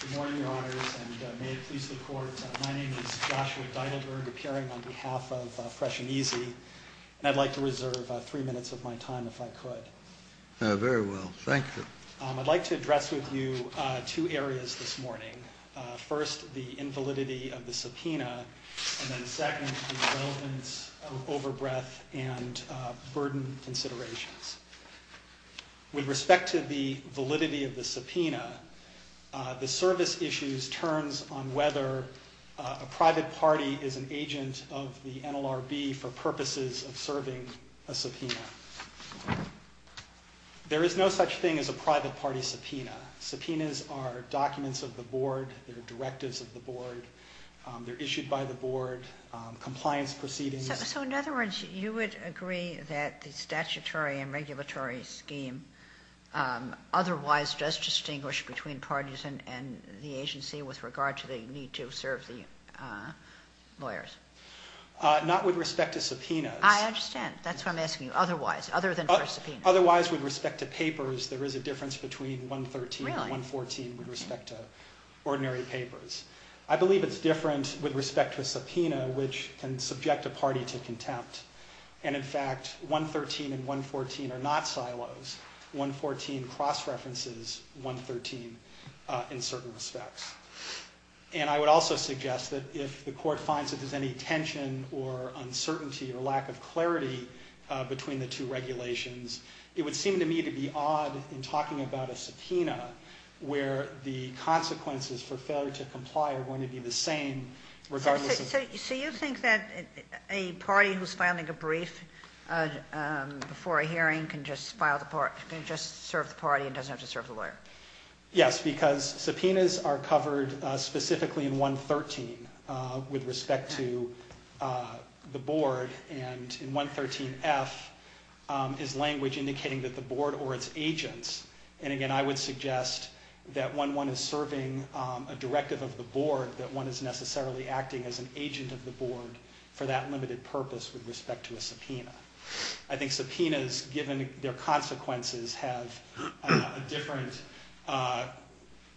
Good morning, Your Honors, and may it please the Court, my name is Joshua Deidelberg, appearing on behalf of Fresh & Easy, and I'd like to reserve three minutes of my time if I could. Very well, thank you. I'd like to address with you two areas this morning. First, the invalidity of the subpoena, and then second, the relevance of overbreath and burden considerations. With respect to the validity of the subpoena, the service issues turns on whether a private party is an agent of the NLRB for purposes of serving a subpoena. There is no such thing as a private party subpoena. Subpoenas are documents of the Board, they're directives of the Board, they're issued by the Board, compliance proceedings. So, in other words, you would agree that the statutory and regulatory scheme otherwise does distinguish between parties and the agency with regard to the need to serve the lawyers? Not with respect to subpoenas. I understand. That's why I'm asking, otherwise, other than for subpoenas. Otherwise, with respect to papers, there is a difference between 113 and 114 with respect to ordinary papers. I believe it's different with respect to a subpoena, which can subject a party to contempt. And, in fact, 113 and 114 are not silos. 114 cross-references 113 in certain respects. And I would also suggest that if the Court finds that there's any tension or uncertainty or lack of clarity between the two regulations, it would seem to me to be odd in talking about a subpoena where the consequences for failure to comply are going to be the same regardless of... So you think that a party who's filing a brief before a hearing can just serve the party and doesn't have to serve the lawyer? Yes, because subpoenas are covered specifically in 113 with respect to the board. And in 113F is language indicating that the board or its agents... And, again, I would suggest that when one is serving a directive of the board, that one is necessarily acting as an agent of the board for that limited purpose with respect to a subpoena. I think subpoenas, given their consequences, have a different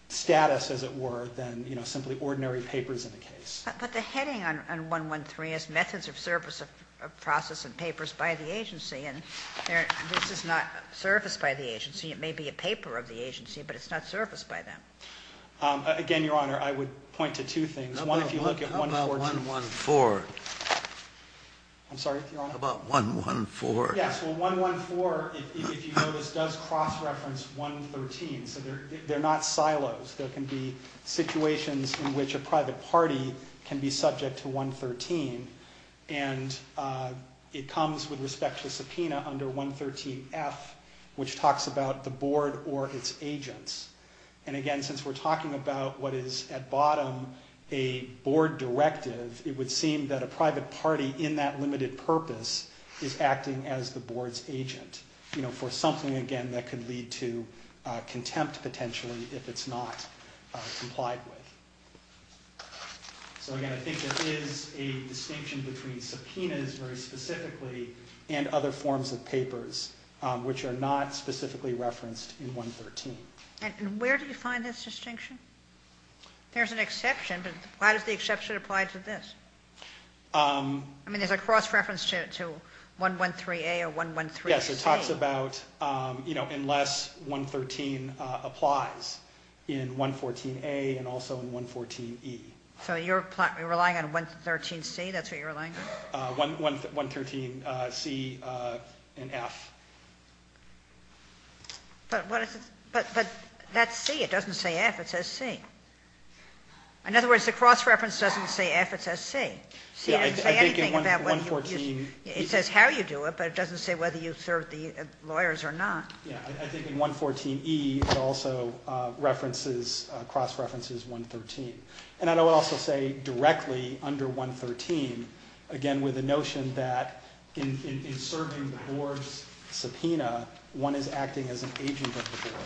status, as it were, than simply ordinary papers in the case. But the heading on 113 is methods of service of process and papers by the agency. And this is not service by the agency. It may be a paper of the agency, but it's not service by them. Again, Your Honor, I would point to two things. One, if you look at 114... How about 114? I'm sorry, Your Honor? How about 114? Yes, well, 114, if you notice, does cross-reference 113. So they're not silos. There can be situations in which a private party can be subject to 113. And it comes with respect to subpoena under 113F, which talks about the board or its agents. And again, since we're talking about what is at bottom a board directive, it would seem that a private party in that limited purpose is acting as the board's agent. You know, for something, again, that could lead to contempt, potentially, if it's not complied with. So again, I think there is a distinction between subpoenas very specifically and other forms of papers, which are not specifically referenced in 113. And where do you find this distinction? There's an exception, but why does the exception apply to this? I mean, there's a cross-reference to 113A or 113C. Yes, it talks about, you know, unless 113 applies in 114A and also in 114E. So you're relying on 113C? That's what you're relying on? 113C and F. But that's C. It doesn't say F. It says C. In other words, the cross-reference doesn't say F. It says C. It doesn't say anything about whether you serve the lawyers or not. Yeah, I think in 114E, it also cross-references 113. And I would also say directly under 113, again, with the notion that in serving the board's subpoena, one is acting as an agent of the board.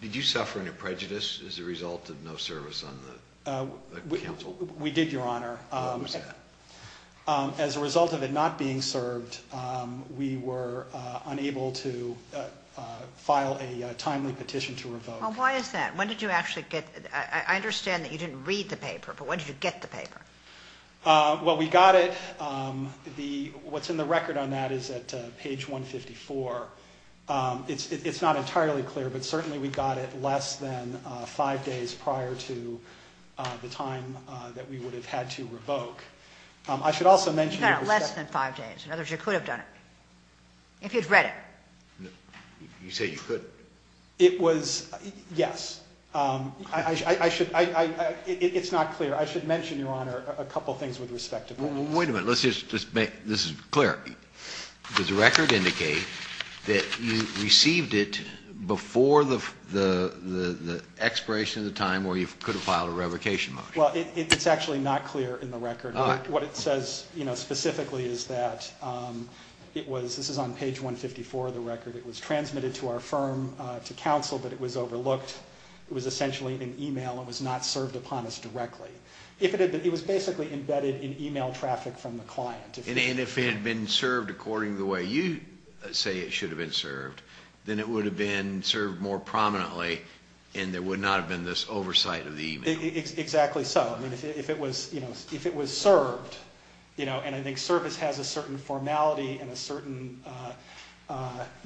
Did you suffer any prejudice as a result of no service on the council? We did, Your Honor. What was that? As a result of it not being served, we were unable to file a timely petition to revoke. Well, why is that? I understand that you didn't read the paper, but when did you get the paper? Well, we got it. What's in the record on that is at page 154. It's not entirely clear, but certainly we got it less than five days prior to the time that we would have had to revoke. You got it less than five days. In other words, you could have done it if you'd read it. You say you could? Yes. It's not clear. I should mention, Your Honor, a couple things with respect to that. Wait a minute. Let's just make this clear. Does the record indicate that you received it before the expiration of the time where you could have filed a revocation motion? Well, it's actually not clear in the record. What it says specifically is that this is on page 154 of the record. It was transmitted to our firm, to counsel, but it was overlooked. It was essentially an email. It was not served upon us directly. It was basically embedded in email traffic from the client. And if it had been served according to the way you say it should have been served, then it would have been served more prominently, and there would not have been this oversight of the email. Exactly so. If it was served, and I think service has a certain formality and a certain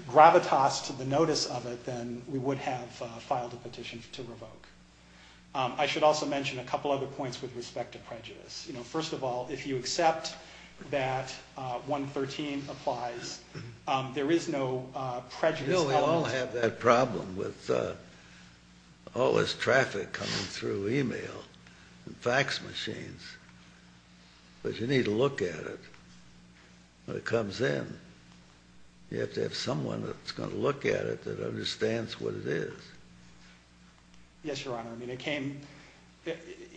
gravitas to the notice of it, then we would have filed a petition to revoke. I should also mention a couple other points with respect to prejudice. First of all, if you accept that 113 applies, there is no prejudice element. You don't have that problem with all this traffic coming through email and fax machines, but you need to look at it when it comes in. You have to have someone that's going to look at it that understands what it is. Yes, Your Honor.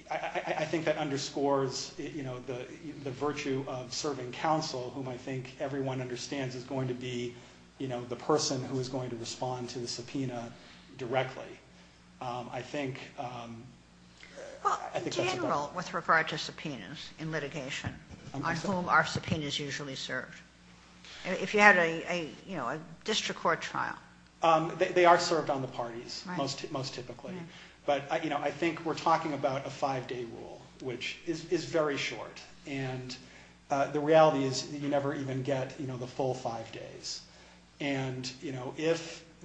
I think that underscores the virtue of serving counsel, whom I think everyone understands is going to be the person who is going to respond to the subpoena directly. I think that's about it. Well, in general, with regard to subpoenas in litigation, on whom are subpoenas usually served? If you had a district court trial. They are served on the parties most typically. But I think we're talking about a five-day rule, which is very short. The reality is you never even get the full five days.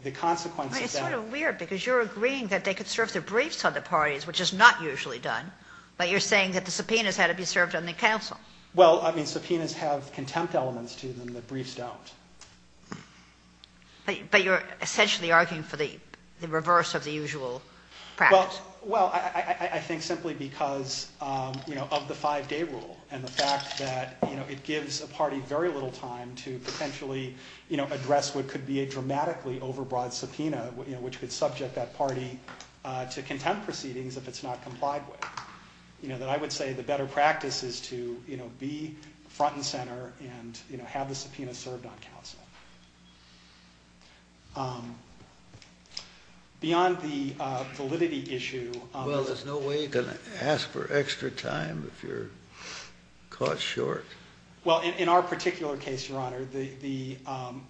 It's sort of weird because you're agreeing that they could serve their briefs on the parties, which is not usually done, but you're saying that the subpoenas had to be served on the counsel. Subpoenas have contempt elements to them that briefs don't. But you're essentially arguing for the reverse of the usual practice. Well, I think simply because of the five-day rule and the fact that it gives a party very little time to potentially address what could be a dramatically overbroad subpoena, which could subject that party to contempt proceedings if it's not complied with. I would say the better practice is to be front and center and have the subpoena served on counsel. Beyond the validity issue— Well, there's no way you're going to ask for extra time if you're caught short. Well, in our particular case, Your Honor, the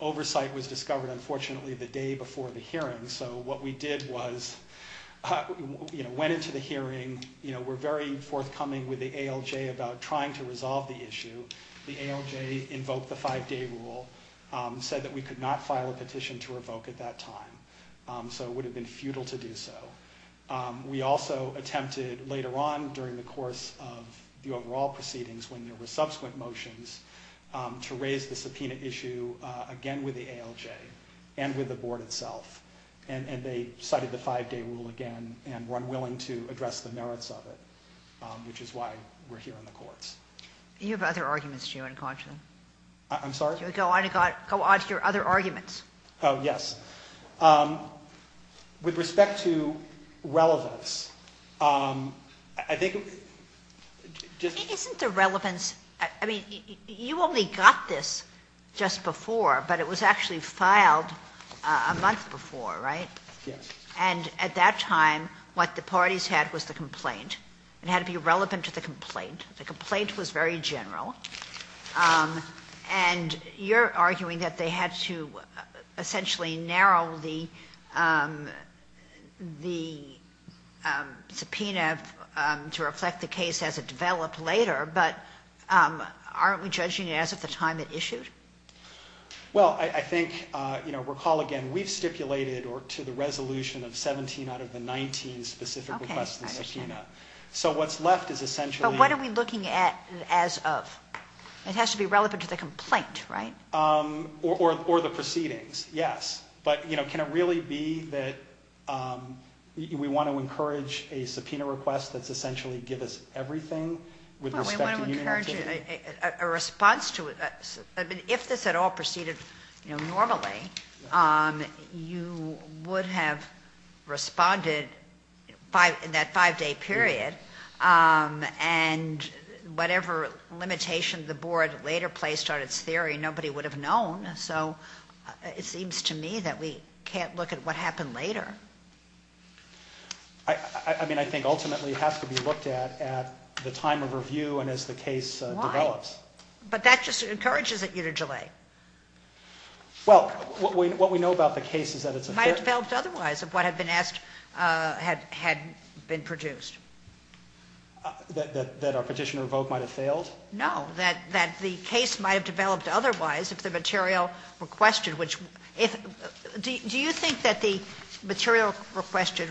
oversight was discovered, unfortunately, the day before the hearing. So what we did was went into the hearing. We're very forthcoming with the ALJ about trying to resolve the issue. The ALJ invoked the five-day rule, said that we could not file a petition to revoke at that time, so it would have been futile to do so. We also attempted later on during the course of the overall proceedings, when there were subsequent motions, to raise the subpoena issue again with the ALJ and with the Board itself. And they cited the five-day rule again and were unwilling to address the merits of it, which is why we're here in the courts. You have other arguments, do you, unconsciously? I'm sorry? Go on to your other arguments. Oh, yes. With respect to relevance, I think— Isn't the relevance—I mean, you only got this just before, but it was actually filed a month before, right? Yes. And at that time, what the parties had was the complaint. It had to be relevant to the complaint. The complaint was very general. And you're arguing that they had to essentially narrow the subpoena to reflect the case as it developed later, but aren't we judging it as of the time it issued? Well, I think—you know, recall again, we've stipulated to the resolution of 17 out of the 19 specific requests in the subpoena. Okay, I understand. So what's left is essentially— But what are we looking at as of? It has to be relevant to the complaint, right? Or the proceedings, yes. But, you know, can it really be that we want to encourage a subpoena request that's essentially give us everything with respect to— A response to—I mean, if this at all proceeded, you know, normally, you would have responded in that five-day period. And whatever limitation the board later placed on its theory, nobody would have known. So it seems to me that we can't look at what happened later. I mean, I think ultimately it has to be looked at at the time of review and as the case develops. Why? But that just encourages it, you know, to delay. Well, what we know about the case is that it's a— It might have developed otherwise if what had been asked had been produced. That our petitioner vote might have failed? No, that the case might have developed otherwise if the material requested, which— Do you think that the material requested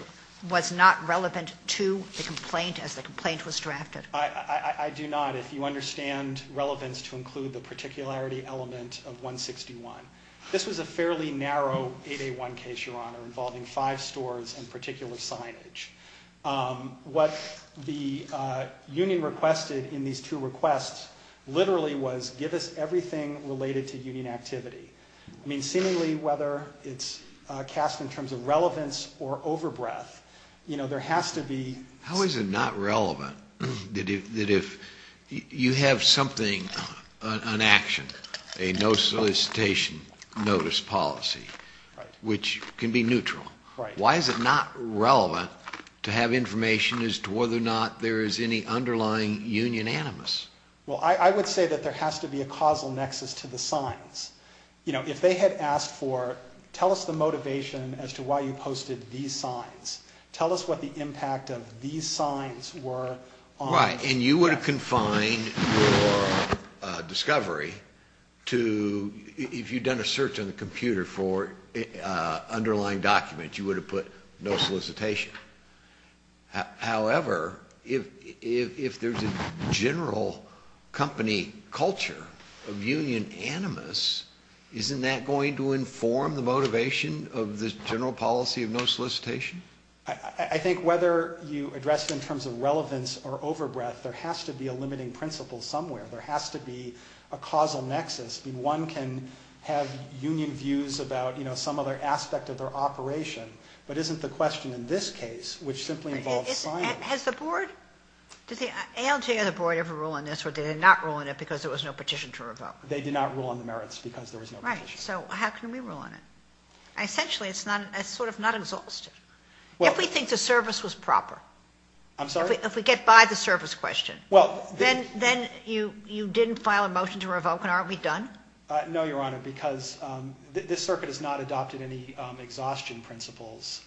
was not relevant to the complaint as the complaint was drafted? I do not, if you understand relevance to include the particularity element of 161. This was a fairly narrow 8A1 case, Your Honor, involving five stores and particular signage. What the union requested in these two requests literally was give us everything related to union activity. I mean, seemingly whether it's cast in terms of relevance or overbreath, you know, there has to be— How is it not relevant that if you have something, an action, a no solicitation notice policy, which can be neutral? Why is it not relevant to have information as to whether or not there is any underlying union animus? Well, I would say that there has to be a causal nexus to the signs. You know, if they had asked for, tell us the motivation as to why you posted these signs. Tell us what the impact of these signs were on— Right, and you would have confined your discovery to— If you'd done a search on the computer for underlying documents, you would have put no solicitation. However, if there's a general company culture of union animus, isn't that going to inform the motivation of this general policy of no solicitation? I think whether you address it in terms of relevance or overbreath, there has to be a limiting principle somewhere. There has to be a causal nexus. I mean, one can have union views about, you know, some other aspect of their operation, but isn't the question in this case, which simply involves signs— Has the board—does the ALJ or the board ever rule on this, or did they not rule on it because there was no petition to revoke? They did not rule on the merits because there was no petition. Right, so how can we rule on it? Essentially, it's sort of not exhaustive. If we think the service was proper— I'm sorry? If we get by the service question, then you didn't file a motion to revoke, and aren't we done? No, Your Honor, because this circuit has not adopted any exhaustion principles,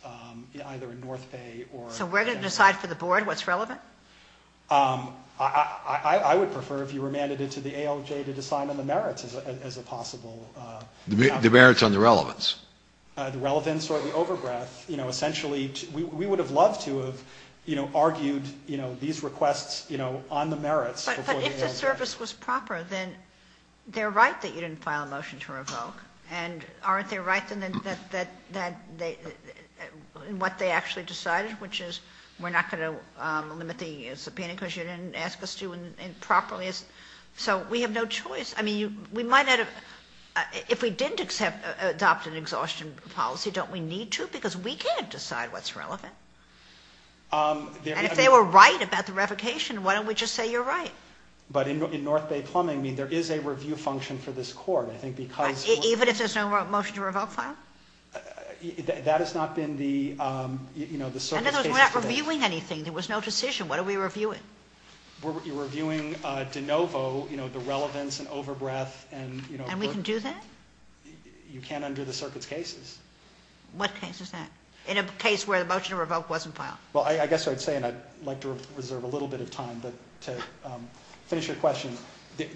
either in North Bay or— So we're going to decide for the board what's relevant? I would prefer if you remanded it to the ALJ to decide on the merits as a possible— The merits on the relevance. The relevance or the overbreath. You know, essentially, we would have loved to have, you know, argued, you know, these requests, you know, on the merits— But if the service was proper, then they're right that you didn't file a motion to revoke. And aren't they right in what they actually decided, which is we're not going to limit the subpoena because you didn't ask us to properly? So we have no choice. I mean, we might not have—if we didn't adopt an exhaustion policy, don't we need to? Because we can't decide what's relevant. And if they were right about the revocation, why don't we just say you're right? But in North Bay Plumbing, I mean, there is a review function for this court, I think, because— Even if there's no motion to revoke file? That has not been the, you know, the circuit's— We're not reviewing anything. There was no decision. What are we reviewing? You're reviewing de novo, you know, the relevance and overbreath and, you know— And we can do that? You can under the circuit's cases. What case is that? In a case where the motion to revoke wasn't filed. Well, I guess I'd say, and I'd like to reserve a little bit of time to finish your question.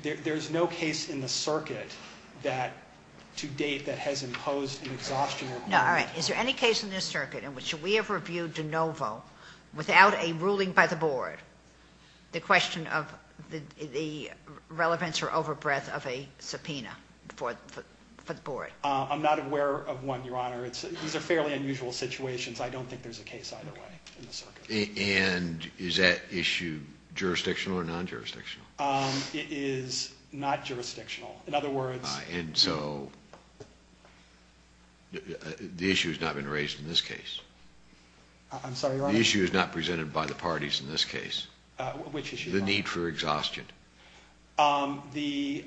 There's no case in the circuit that, to date, that has imposed an exhaustion requirement. No. All right. Is there any case in this circuit in which we have reviewed de novo without a ruling by the board? The question of the relevance or overbreath of a subpoena for the board. I'm not aware of one, Your Honor. These are fairly unusual situations. I don't think there's a case either way in the circuit. And is that issue jurisdictional or non-jurisdictional? It is not jurisdictional. In other words— And so the issue has not been raised in this case. I'm sorry, Your Honor? The issue is not presented by the parties in this case. Which issue, Your Honor? The need for exhaustion. The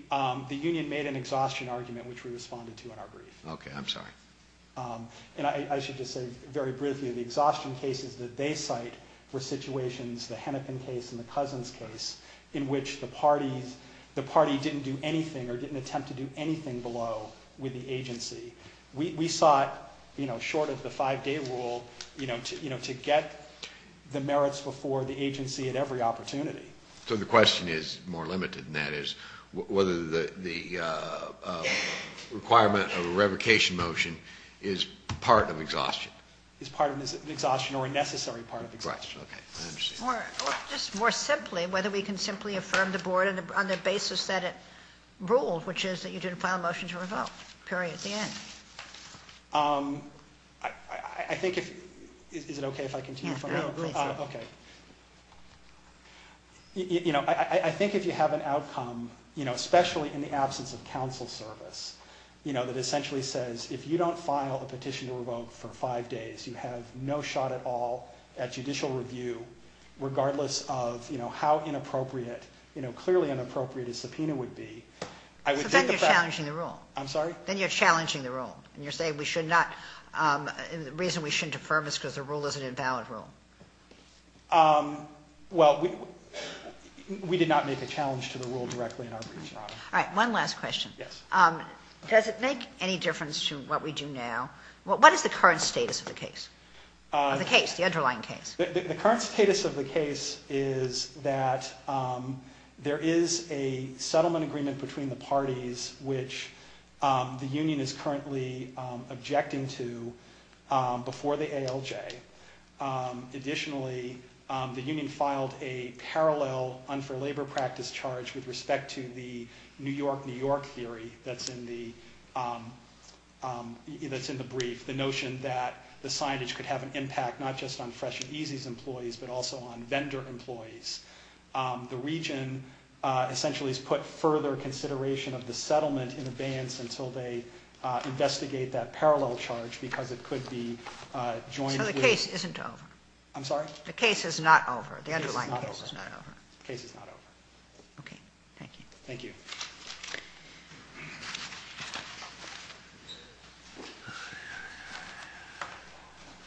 union made an exhaustion argument, which we responded to in our brief. Okay. I'm sorry. And I should just say very briefly, the exhaustion cases that they cite were situations, the Hennepin case and the Cousins case, in which the party didn't do anything or didn't attempt to do anything below with the agency. We sought, short of the five-day rule, to get the merits before the agency at every opportunity. So the question is more limited than that, is whether the requirement of a revocation motion is part of exhaustion. It's part of exhaustion or a necessary part of exhaustion. Right. Okay. I understand. Or just more simply, whether we can simply affirm the board on the basis that it ruled, which is that you didn't file a motion to revoke, period, at the end. I think if—is it okay if I continue? Yeah, go ahead. Okay. You know, I think if you have an outcome, you know, especially in the absence of counsel service, you know, that essentially says if you don't file a petition to revoke for five days, you have no shot at all at judicial review, regardless of, you know, how inappropriate, you know, clearly inappropriate a subpoena would be, I would think that— So then you're challenging the rule. I'm sorry? Then you're challenging the rule. And you're saying we should not—the reason we shouldn't affirm is because the rule is an invalid rule. Well, we did not make a challenge to the rule directly in our briefs, Your Honor. All right. One last question. Yes. Does it make any difference to what we do now? What is the current status of the case? Of the case, the underlying case. The current status of the case is that there is a settlement agreement between the parties which the union is currently objecting to before the ALJ. Additionally, the union filed a parallel unfair labor practice charge with respect to the New York, New York theory that's in the brief, the notion that the signage could have an impact not just on Fresh and Easy's employees, but also on vendor employees. The region essentially has put further consideration of the settlement in advance until they investigate that parallel charge because it could be joined with— So the case isn't over. I'm sorry? The case is not over. The underlying case is not over. Okay. Thank you. Thank you.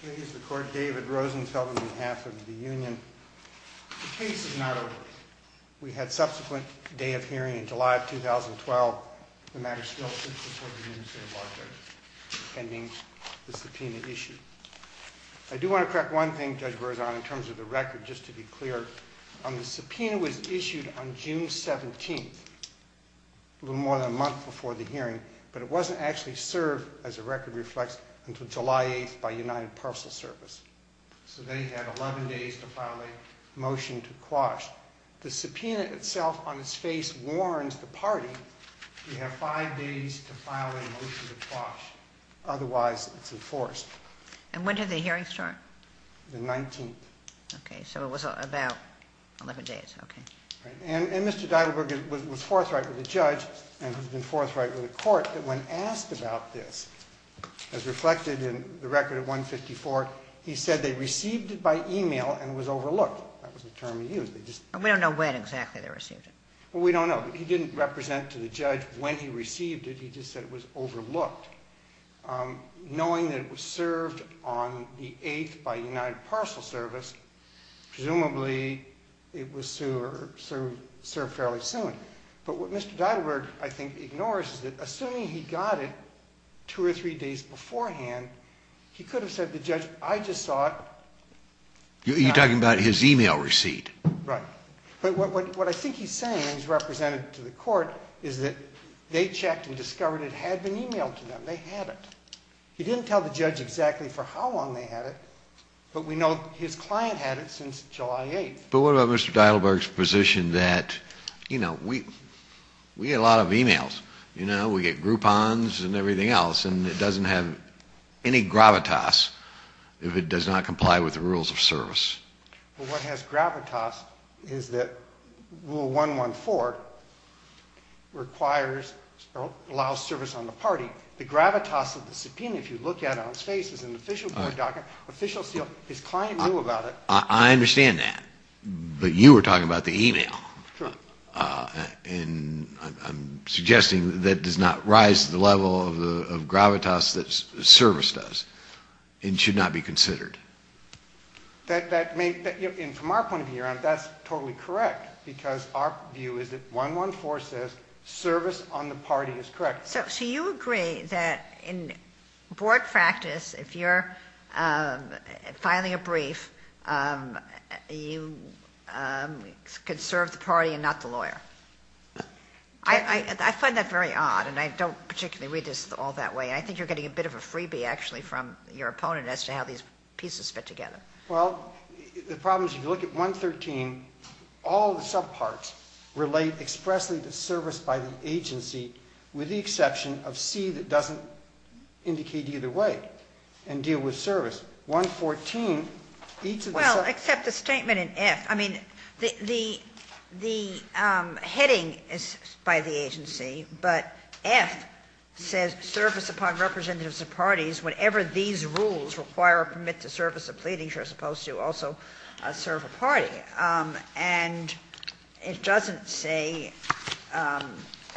Here is the court, David Rosenfeld, on behalf of the union. The case is not over. We had subsequent day of hearing in July of 2012. The matter still sits before the New York State Bar Court pending the subpoena issue. I do want to crack one thing Judge Berzon, in terms of the record, just to be clear. The subpoena was issued on June 17th. A little more than a month before the hearing. But it wasn't actually served, as the record reflects, until July 8th by United Parcel Service. So then you have 11 days to file a motion to quash. The subpoena itself on its face warns the party, you have five days to file a motion to quash. Otherwise, it's enforced. And when did the hearing start? The 19th. Okay. So it was about 11 days. Okay. And Mr. Deidelberg was forthright with the judge and has been forthright with the court that when asked about this, as reflected in the record of 154, he said they received it by e-mail and was overlooked. That was the term he used. We don't know when exactly they received it. Well, we don't know. He didn't represent to the judge when he received it. He just said it was overlooked. Knowing that it was served on the 8th by United Parcel Service, presumably it was served fairly soon. But what Mr. Deidelberg, I think, ignores is that assuming he got it two or three days beforehand, he could have said to the judge, I just saw it. You're talking about his e-mail receipt. Right. But what I think he's saying, and he's represented to the court, is that they checked and discovered it had been e-mailed to them. They had it. He didn't tell the judge exactly for how long they had it, but we know his client had it since July 8th. But what about Mr. Deidelberg's position that, you know, we get a lot of e-mails, you know, we get Groupons and everything else, and it doesn't have any gravitas if it does not comply with the rules of service? Well, what has gravitas is that Rule 114 requires or allows service on the party. The gravitas of the subpoena, if you look at it on its face, is an official board document, official seal. His client knew about it. I understand that. But you were talking about the e-mail. True. And I'm suggesting that does not rise to the level of gravitas that service does and should not be considered. And from our point of view, that's totally correct, because our view is that 114 says service on the party is correct. So you agree that in board practice, if you're filing a brief, you could serve the party and not the lawyer? I find that very odd, and I don't particularly read this all that way. I think you're getting a bit of a freebie, actually, from your opponent as to how these pieces fit together. Well, the problem is if you look at 113, all the subparts relate expressly to service by the agency, with the exception of C that doesn't indicate either way and deal with service. 114, each of the subparts. Well, except the statement in F. I mean, the heading is by the agency, but F says service upon representatives of parties whenever these rules require or permit the service of pleadings, you're supposed to also serve a party. And it doesn't say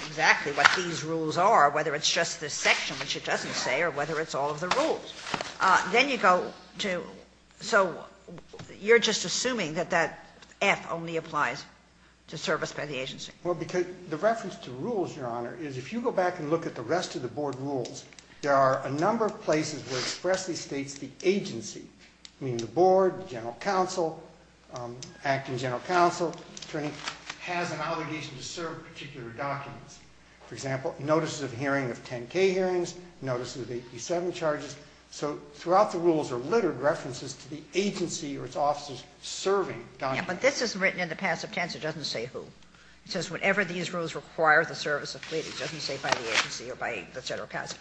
exactly what these rules are, whether it's just this section, which it doesn't say, or whether it's all of the rules. Then you go to so you're just assuming that that F only applies to service by the agency. Well, because the reference to rules, Your Honor, is if you go back and look at the rest of the board rules, there are a number of places where expressly states the agency. I mean, the board, general counsel, acting general counsel, attorney has an obligation to serve particular documents. For example, notices of hearing of 10K hearings, notices of AP7 charges. So throughout the rules are littered references to the agency or its officers serving documents. Yeah, but this is written in the passive tense. It doesn't say who. It says whenever these rules require the service of pleadings. It doesn't say by the agency or by the general counsel.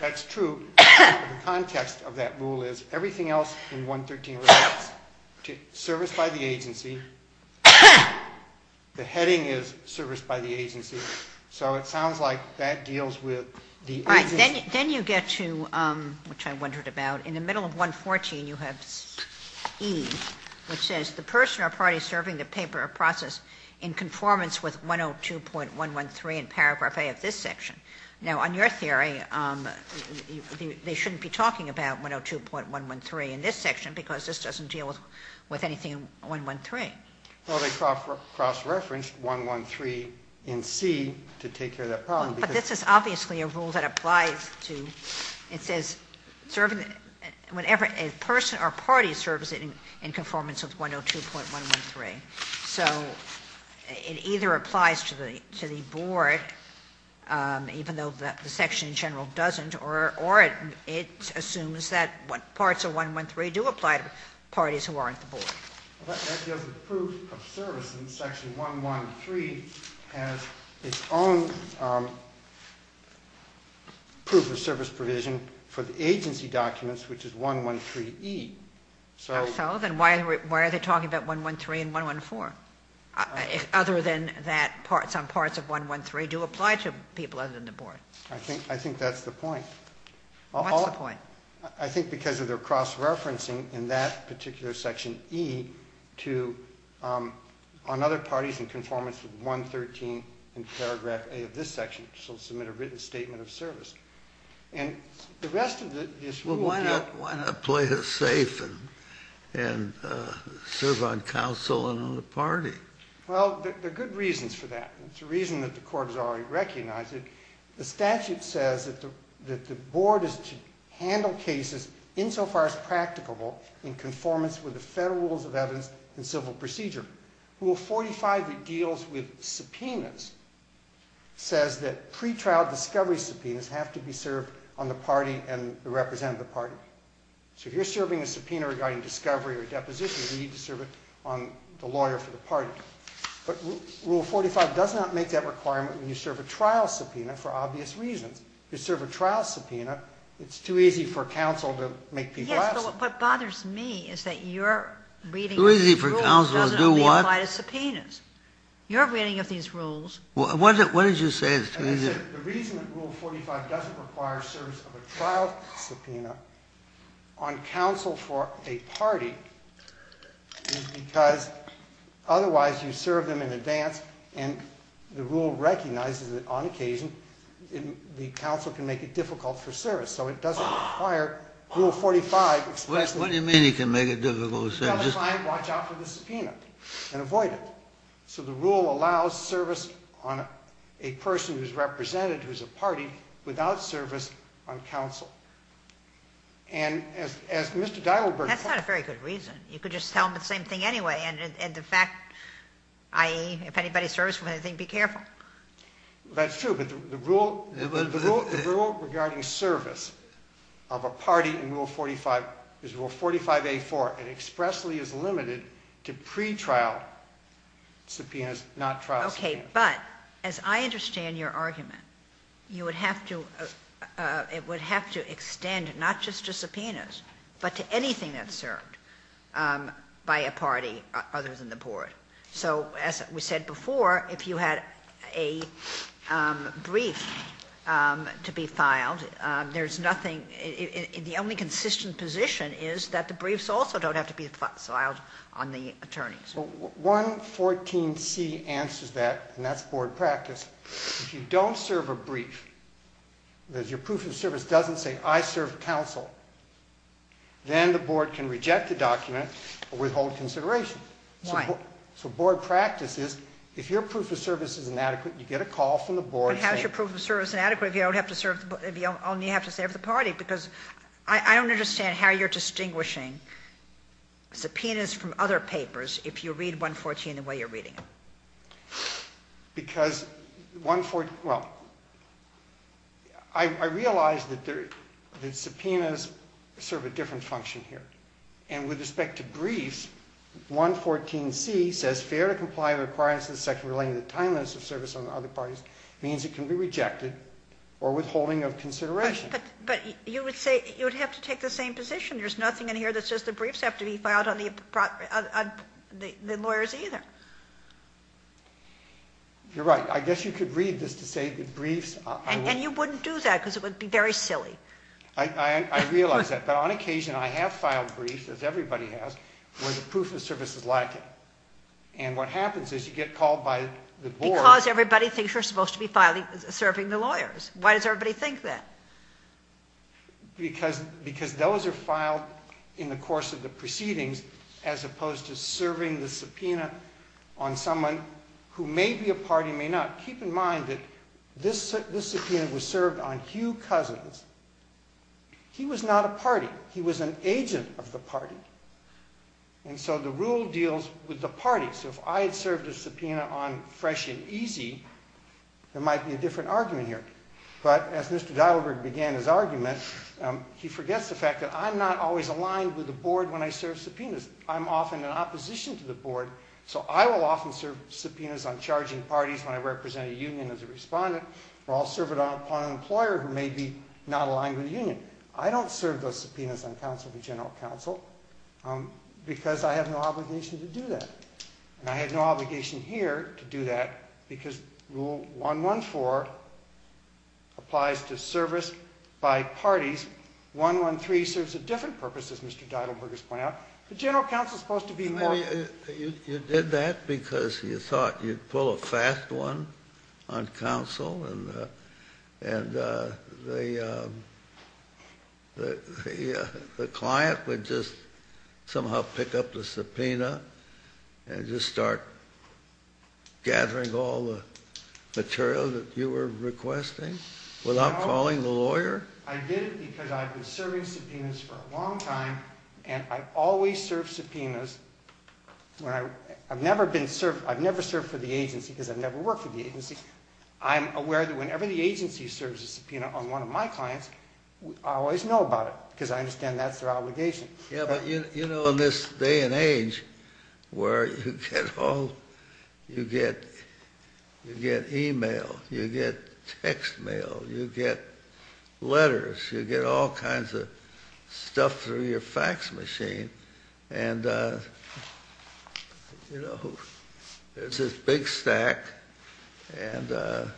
That's true. The context of that rule is everything else in 113 relates to service by the agency. The heading is service by the agency. So it sounds like that deals with the agency. Right. Then you get to, which I wondered about, in the middle of 114, you have E, which says, the person or party serving the paper or process in conformance with 102.113 in paragraph A of this section. Now, on your theory, they shouldn't be talking about 102.113 in this section because this doesn't deal with anything in 113. Well, they cross-referenced 113 in C to take care of that problem. But this is obviously a rule that applies to, it says, whenever a person or party serves in conformance with 102.113. So it either applies to the board, even though the section in general doesn't, or it assumes that parts of 113 do apply to parties who aren't the board. That deals with proof of service in section 113 has its own proof of service provision for the agency documents, which is 113E. So then why are they talking about 113 and 114, other than that some parts of 113 do apply to people other than the board? I think that's the point. What's the point? I think because of their cross-referencing in that particular section E on other parties in conformance with 113 in paragraph A of this section, which will submit a written statement of service. And the rest of this rule... Well, why not play it safe and serve on counsel and on the party? Well, there are good reasons for that. There's a reason that the Court has already recognized it. The statute says that the board is to handle cases insofar as practicable in conformance with the federal rules of evidence and civil procedure. Rule 45 that deals with subpoenas says that pretrial discovery subpoenas have to be served on the party and the representative of the party. So if you're serving a subpoena regarding discovery or deposition, you need to serve it on the lawyer for the party. But Rule 45 does not make that requirement when you serve a trial subpoena for obvious reasons. If you serve a trial subpoena, it's too easy for counsel to make people ask. Yes, but what bothers me is that your reading of these rules doesn't only apply to subpoenas. Your reading of these rules... What did you say? The reason that Rule 45 doesn't require service of a trial subpoena on counsel for a party is because otherwise you serve them in advance and the rule recognizes that on occasion the counsel can make it difficult for service. So it doesn't require Rule 45... What do you mean he can make it difficult to serve? If you have a client, watch out for the subpoena and avoid it. So the rule allows service on a person who's represented, who's a party, without service on counsel. And as Mr. Deidelberg... That's not a very good reason. You could just tell them the same thing anyway and the fact, i.e., if anybody serves for anything, be careful. That's true, but the rule regarding service of a party in Rule 45 is Rule 45A4 and expressly is limited to pretrial subpoenas, not trial subpoenas. Okay, but as I understand your argument, you would have to extend not just to subpoenas but to anything that's served by a party other than the board. So as we said before, if you had a brief to be filed, there's nothing... The only consistent position is that the briefs also don't have to be filed on the attorneys. Well, 114C answers that, and that's board practice. If you don't serve a brief, if your proof of service doesn't say, I serve counsel, then the board can reject the document or withhold consideration. Why? So board practice is if your proof of service is inadequate, you get a call from the board saying... I'll only have to say of the party because I don't understand how you're distinguishing subpoenas from other papers if you read 114 the way you're reading it. Because 114... Well, I realize that subpoenas serve a different function here, and with respect to briefs, 114C says, fair to comply with the requirements of the section relating to the timeliness of service on other parties means it can be rejected or withholding of consideration. But you would have to take the same position. There's nothing in here that says the briefs have to be filed on the lawyers either. You're right. I guess you could read this to say that briefs... And you wouldn't do that because it would be very silly. I realize that, but on occasion I have filed briefs, as everybody has, where the proof of service is lacking, and what happens is you get called by the board... You're supposed to be serving the lawyers. Why does everybody think that? Because those are filed in the course of the proceedings as opposed to serving the subpoena on someone who may be a party, may not. Keep in mind that this subpoena was served on Hugh Cousins. He was not a party. He was an agent of the party. And so the rule deals with the party. So if I had served a subpoena on Fresh and Easy, there might be a different argument here. But as Mr. Dylberg began his argument, he forgets the fact that I'm not always aligned with the board when I serve subpoenas. I'm often in opposition to the board, so I will often serve subpoenas on charging parties when I represent a union as a respondent, or I'll serve it upon an employer who may be not aligned with a union. I don't serve those subpoenas on counsel for general counsel because I have no obligation to do that. And I have no obligation here to do that because Rule 114 applies to service by parties. 113 serves a different purpose, as Mr. Dylberg has pointed out. The general counsel is supposed to be more ---- You did that because you thought you'd pull a fast one on counsel and the client would just somehow pick up the subpoena and just start gathering all the material that you were requesting without calling the lawyer? I did it because I've been serving subpoenas for a long time, and I've always served subpoenas. I've never served for the agency because I've never worked for the agency. I'm aware that whenever the agency serves a subpoena on one of my clients, I always know about it because I understand that's their obligation. Yeah, but you know in this day and age where you get e-mail, you get text mail, you get letters, you get all kinds of stuff through your fax machine, and there's this big stack and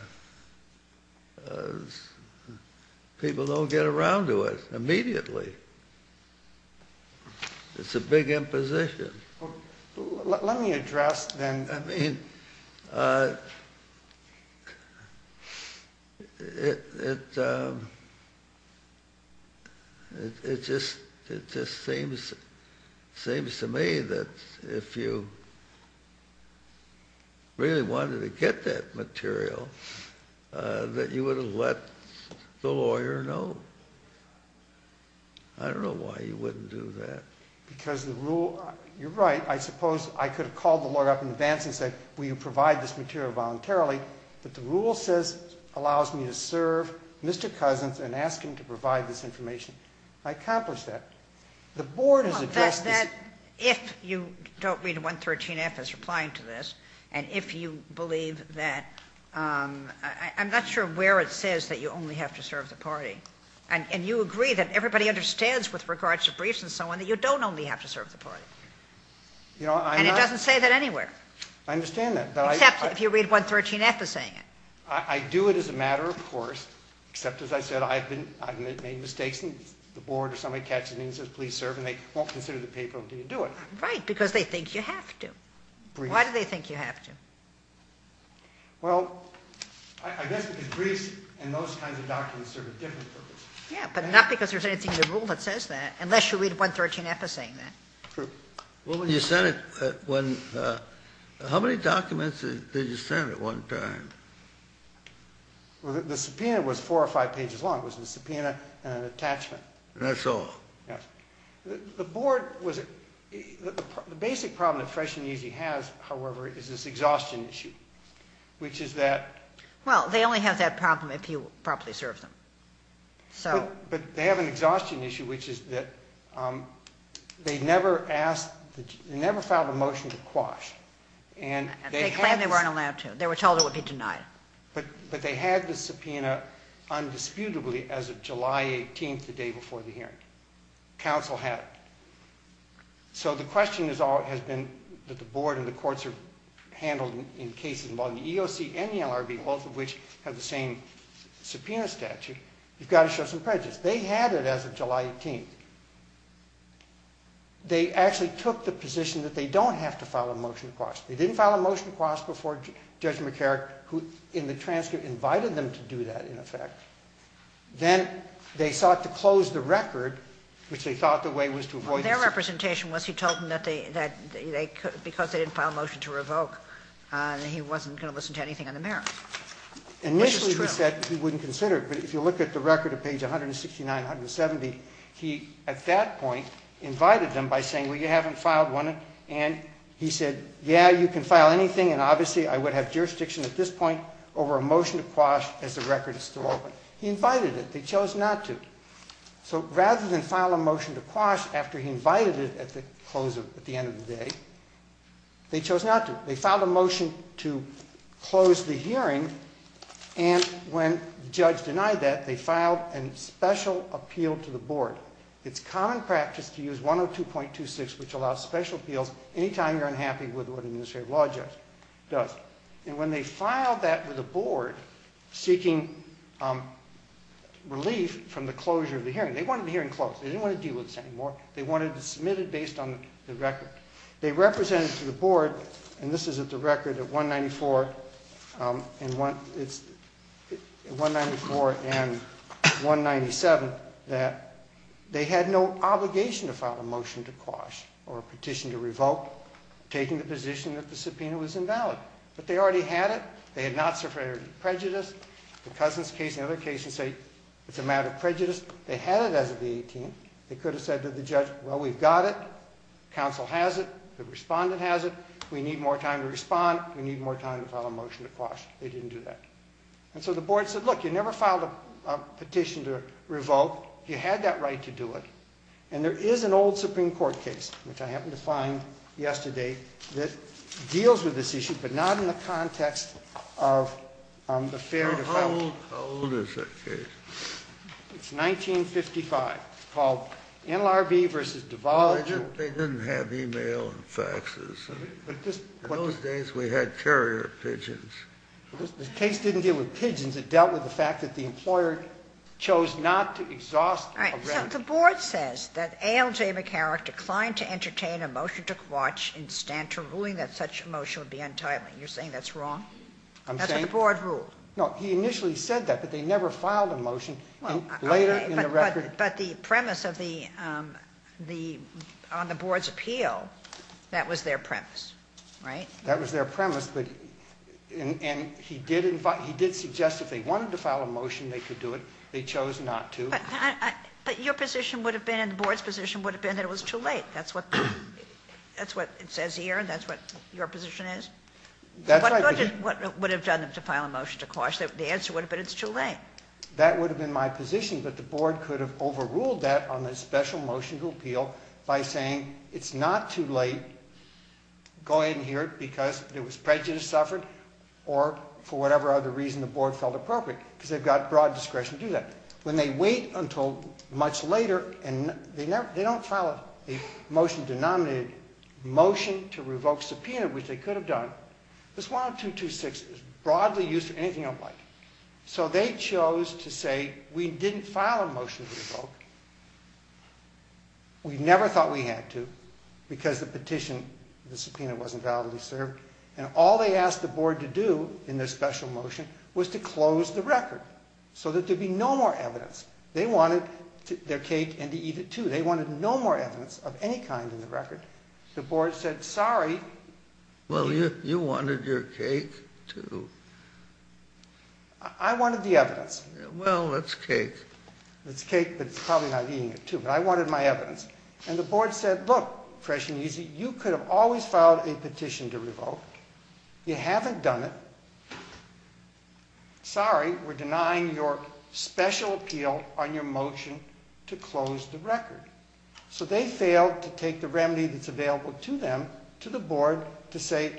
people don't get around to it immediately. It's a big imposition. Let me address then ---- I mean, it just seems to me that if you really wanted to get that material, that you would have let the lawyer know. I don't know why you wouldn't do that. Because the rule ---- You're right. I suppose I could have called the lawyer up in advance and said, will you provide this material voluntarily? But the rule says it allows me to serve Mr. Cousins and ask him to provide this information. I accomplished that. The board has addressed this. If you don't read 113F as replying to this, and if you believe that ---- I'm not sure where it says that you only have to serve the party. And you agree that everybody understands with regards to briefs and so on that you don't only have to serve the party. And it doesn't say that anywhere. I understand that. Except if you read 113F as saying it. I do it as a matter of course, except, as I said, I've made mistakes and the board or somebody catches me and says please serve and they won't consider the paper until you do it. Right, because they think you have to. Why do they think you have to? Well, I guess because briefs and those kinds of documents serve a different purpose. Yeah, but not because there's anything in the rule that says that, unless you read 113F as saying that. True. Well, when you sent it, how many documents did you send at one time? The subpoena was four or five pages long. It was a subpoena and an attachment. That's all? Yes. The board was ---- the basic problem that Fresh and Easy has, however, is this exhaustion issue, which is that ---- Well, they only have that problem if you properly serve them. But they have an exhaustion issue, which is that they never filed a motion to quash. They claimed they weren't allowed to. They were told it would be denied. But they had the subpoena undisputably as of July 18th, the day before the hearing. Counsel had it. So the question has been that the board and the courts are handled in cases involving the EOC and the LRB, both of which have the same subpoena statute. You've got to show some prejudice. They had it as of July 18th. They actually took the position that they don't have to file a motion to quash. They didn't file a motion to quash before Judge McCarrick, who in the transcript invited them to do that, in effect. Then they sought to close the record, which they thought the way was to avoid ---- Well, their representation was he told them that because they didn't file a motion to revoke, that he wasn't going to listen to anything on the merits, which is true. He said he wouldn't consider it. But if you look at the record at page 169, 170, he, at that point, invited them by saying, well, you haven't filed one. And he said, yeah, you can file anything, and obviously I would have jurisdiction at this point over a motion to quash as the record is still open. He invited it. They chose not to. So rather than file a motion to quash after he invited it at the end of the day, they chose not to. They filed a motion to close the hearing, and when the judge denied that, they filed a special appeal to the board. It's common practice to use 102.26, which allows special appeals, any time you're unhappy with what an administrative law judge does. And when they filed that with the board, seeking relief from the closure of the hearing, they wanted the hearing closed. They didn't want to deal with this anymore. They wanted to submit it based on the record. They represented to the board, and this is at the record at 194 and 197, that they had no obligation to file a motion to quash or a petition to revoke taking the position that the subpoena was invalid. But they already had it. They had not suffered prejudice. The Cousins case and other cases say it's a matter of prejudice. They had it as of the 18th. They could have said to the judge, well, we've got it. The council has it. The respondent has it. We need more time to respond. We need more time to file a motion to quash. They didn't do that. And so the board said, look, you never filed a petition to revoke. You had that right to do it. And there is an old Supreme Court case, which I happened to find yesterday, that deals with this issue but not in the context of the fair defense. How old is that case? It's 1955. It's called NLRB v. Duval. They didn't have e-mail and faxes. In those days, we had carrier pigeons. The case didn't deal with pigeons. It dealt with the fact that the employer chose not to exhaust a rent. All right. So the board says that A.L.J. McCarrick declined to entertain a motion to quash and stand to ruling that such a motion would be untimely. You're saying that's wrong? That's what the board ruled. No. He initially said that, but they never filed a motion. But the premise on the board's appeal, that was their premise, right? That was their premise, and he did suggest if they wanted to file a motion, they could do it. They chose not to. But your position would have been and the board's position would have been that it was too late. That's what it says here, and that's what your position is? That's right. What would have done it to file a motion to quash? The answer would have been it's too late. That would have been my position, but the board could have overruled that on the special motion to appeal by saying it's not too late, go ahead and hear it because there was prejudice suffered or for whatever other reason the board felt appropriate because they've got broad discretion to do that. When they wait until much later and they don't file a motion denominated motion to revoke subpoena, which they could have done, this 1226 is broadly used for anything I'd like. So they chose to say we didn't file a motion to revoke. We never thought we had to because the petition, the subpoena, wasn't validly served. And all they asked the board to do in their special motion was to close the record so that there'd be no more evidence. They wanted their cake and to eat it too. They wanted no more evidence of any kind in the record. The board said, sorry. Well, you wanted your cake too. I wanted the evidence. Well, it's cake. It's cake, but it's probably not eating it too. But I wanted my evidence. And the board said, look, fresh and easy, you could have always filed a petition to revoke. You haven't done it. Sorry, we're denying your special appeal on your motion to close the record. So they failed to take the remedy that's available to them, to the board, to say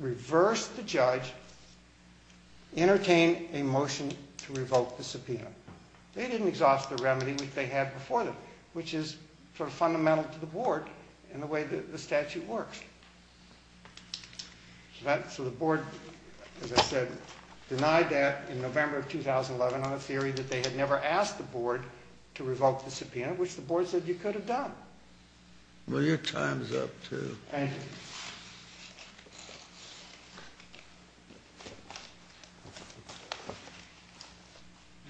reverse the judge, entertain a motion to revoke the subpoena. They didn't exhaust the remedy, which they had before them, which is sort of fundamental to the board and the way the statute works. So the board, as I said, denied that in November of 2011 on a theory that I wish the board said you could have done. Well, your time's up too. Thank you.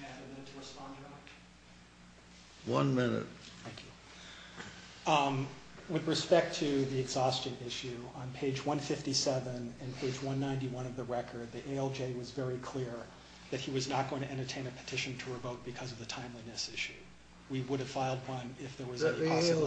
May I have a minute to respond to that? One minute. Thank you. With respect to the exhaustion issue, on page 157 and page 191 of the record, the ALJ was very clear that he was not going to entertain a petition to revoke because of the timeliness issue. We would have filed one if there was a possibility.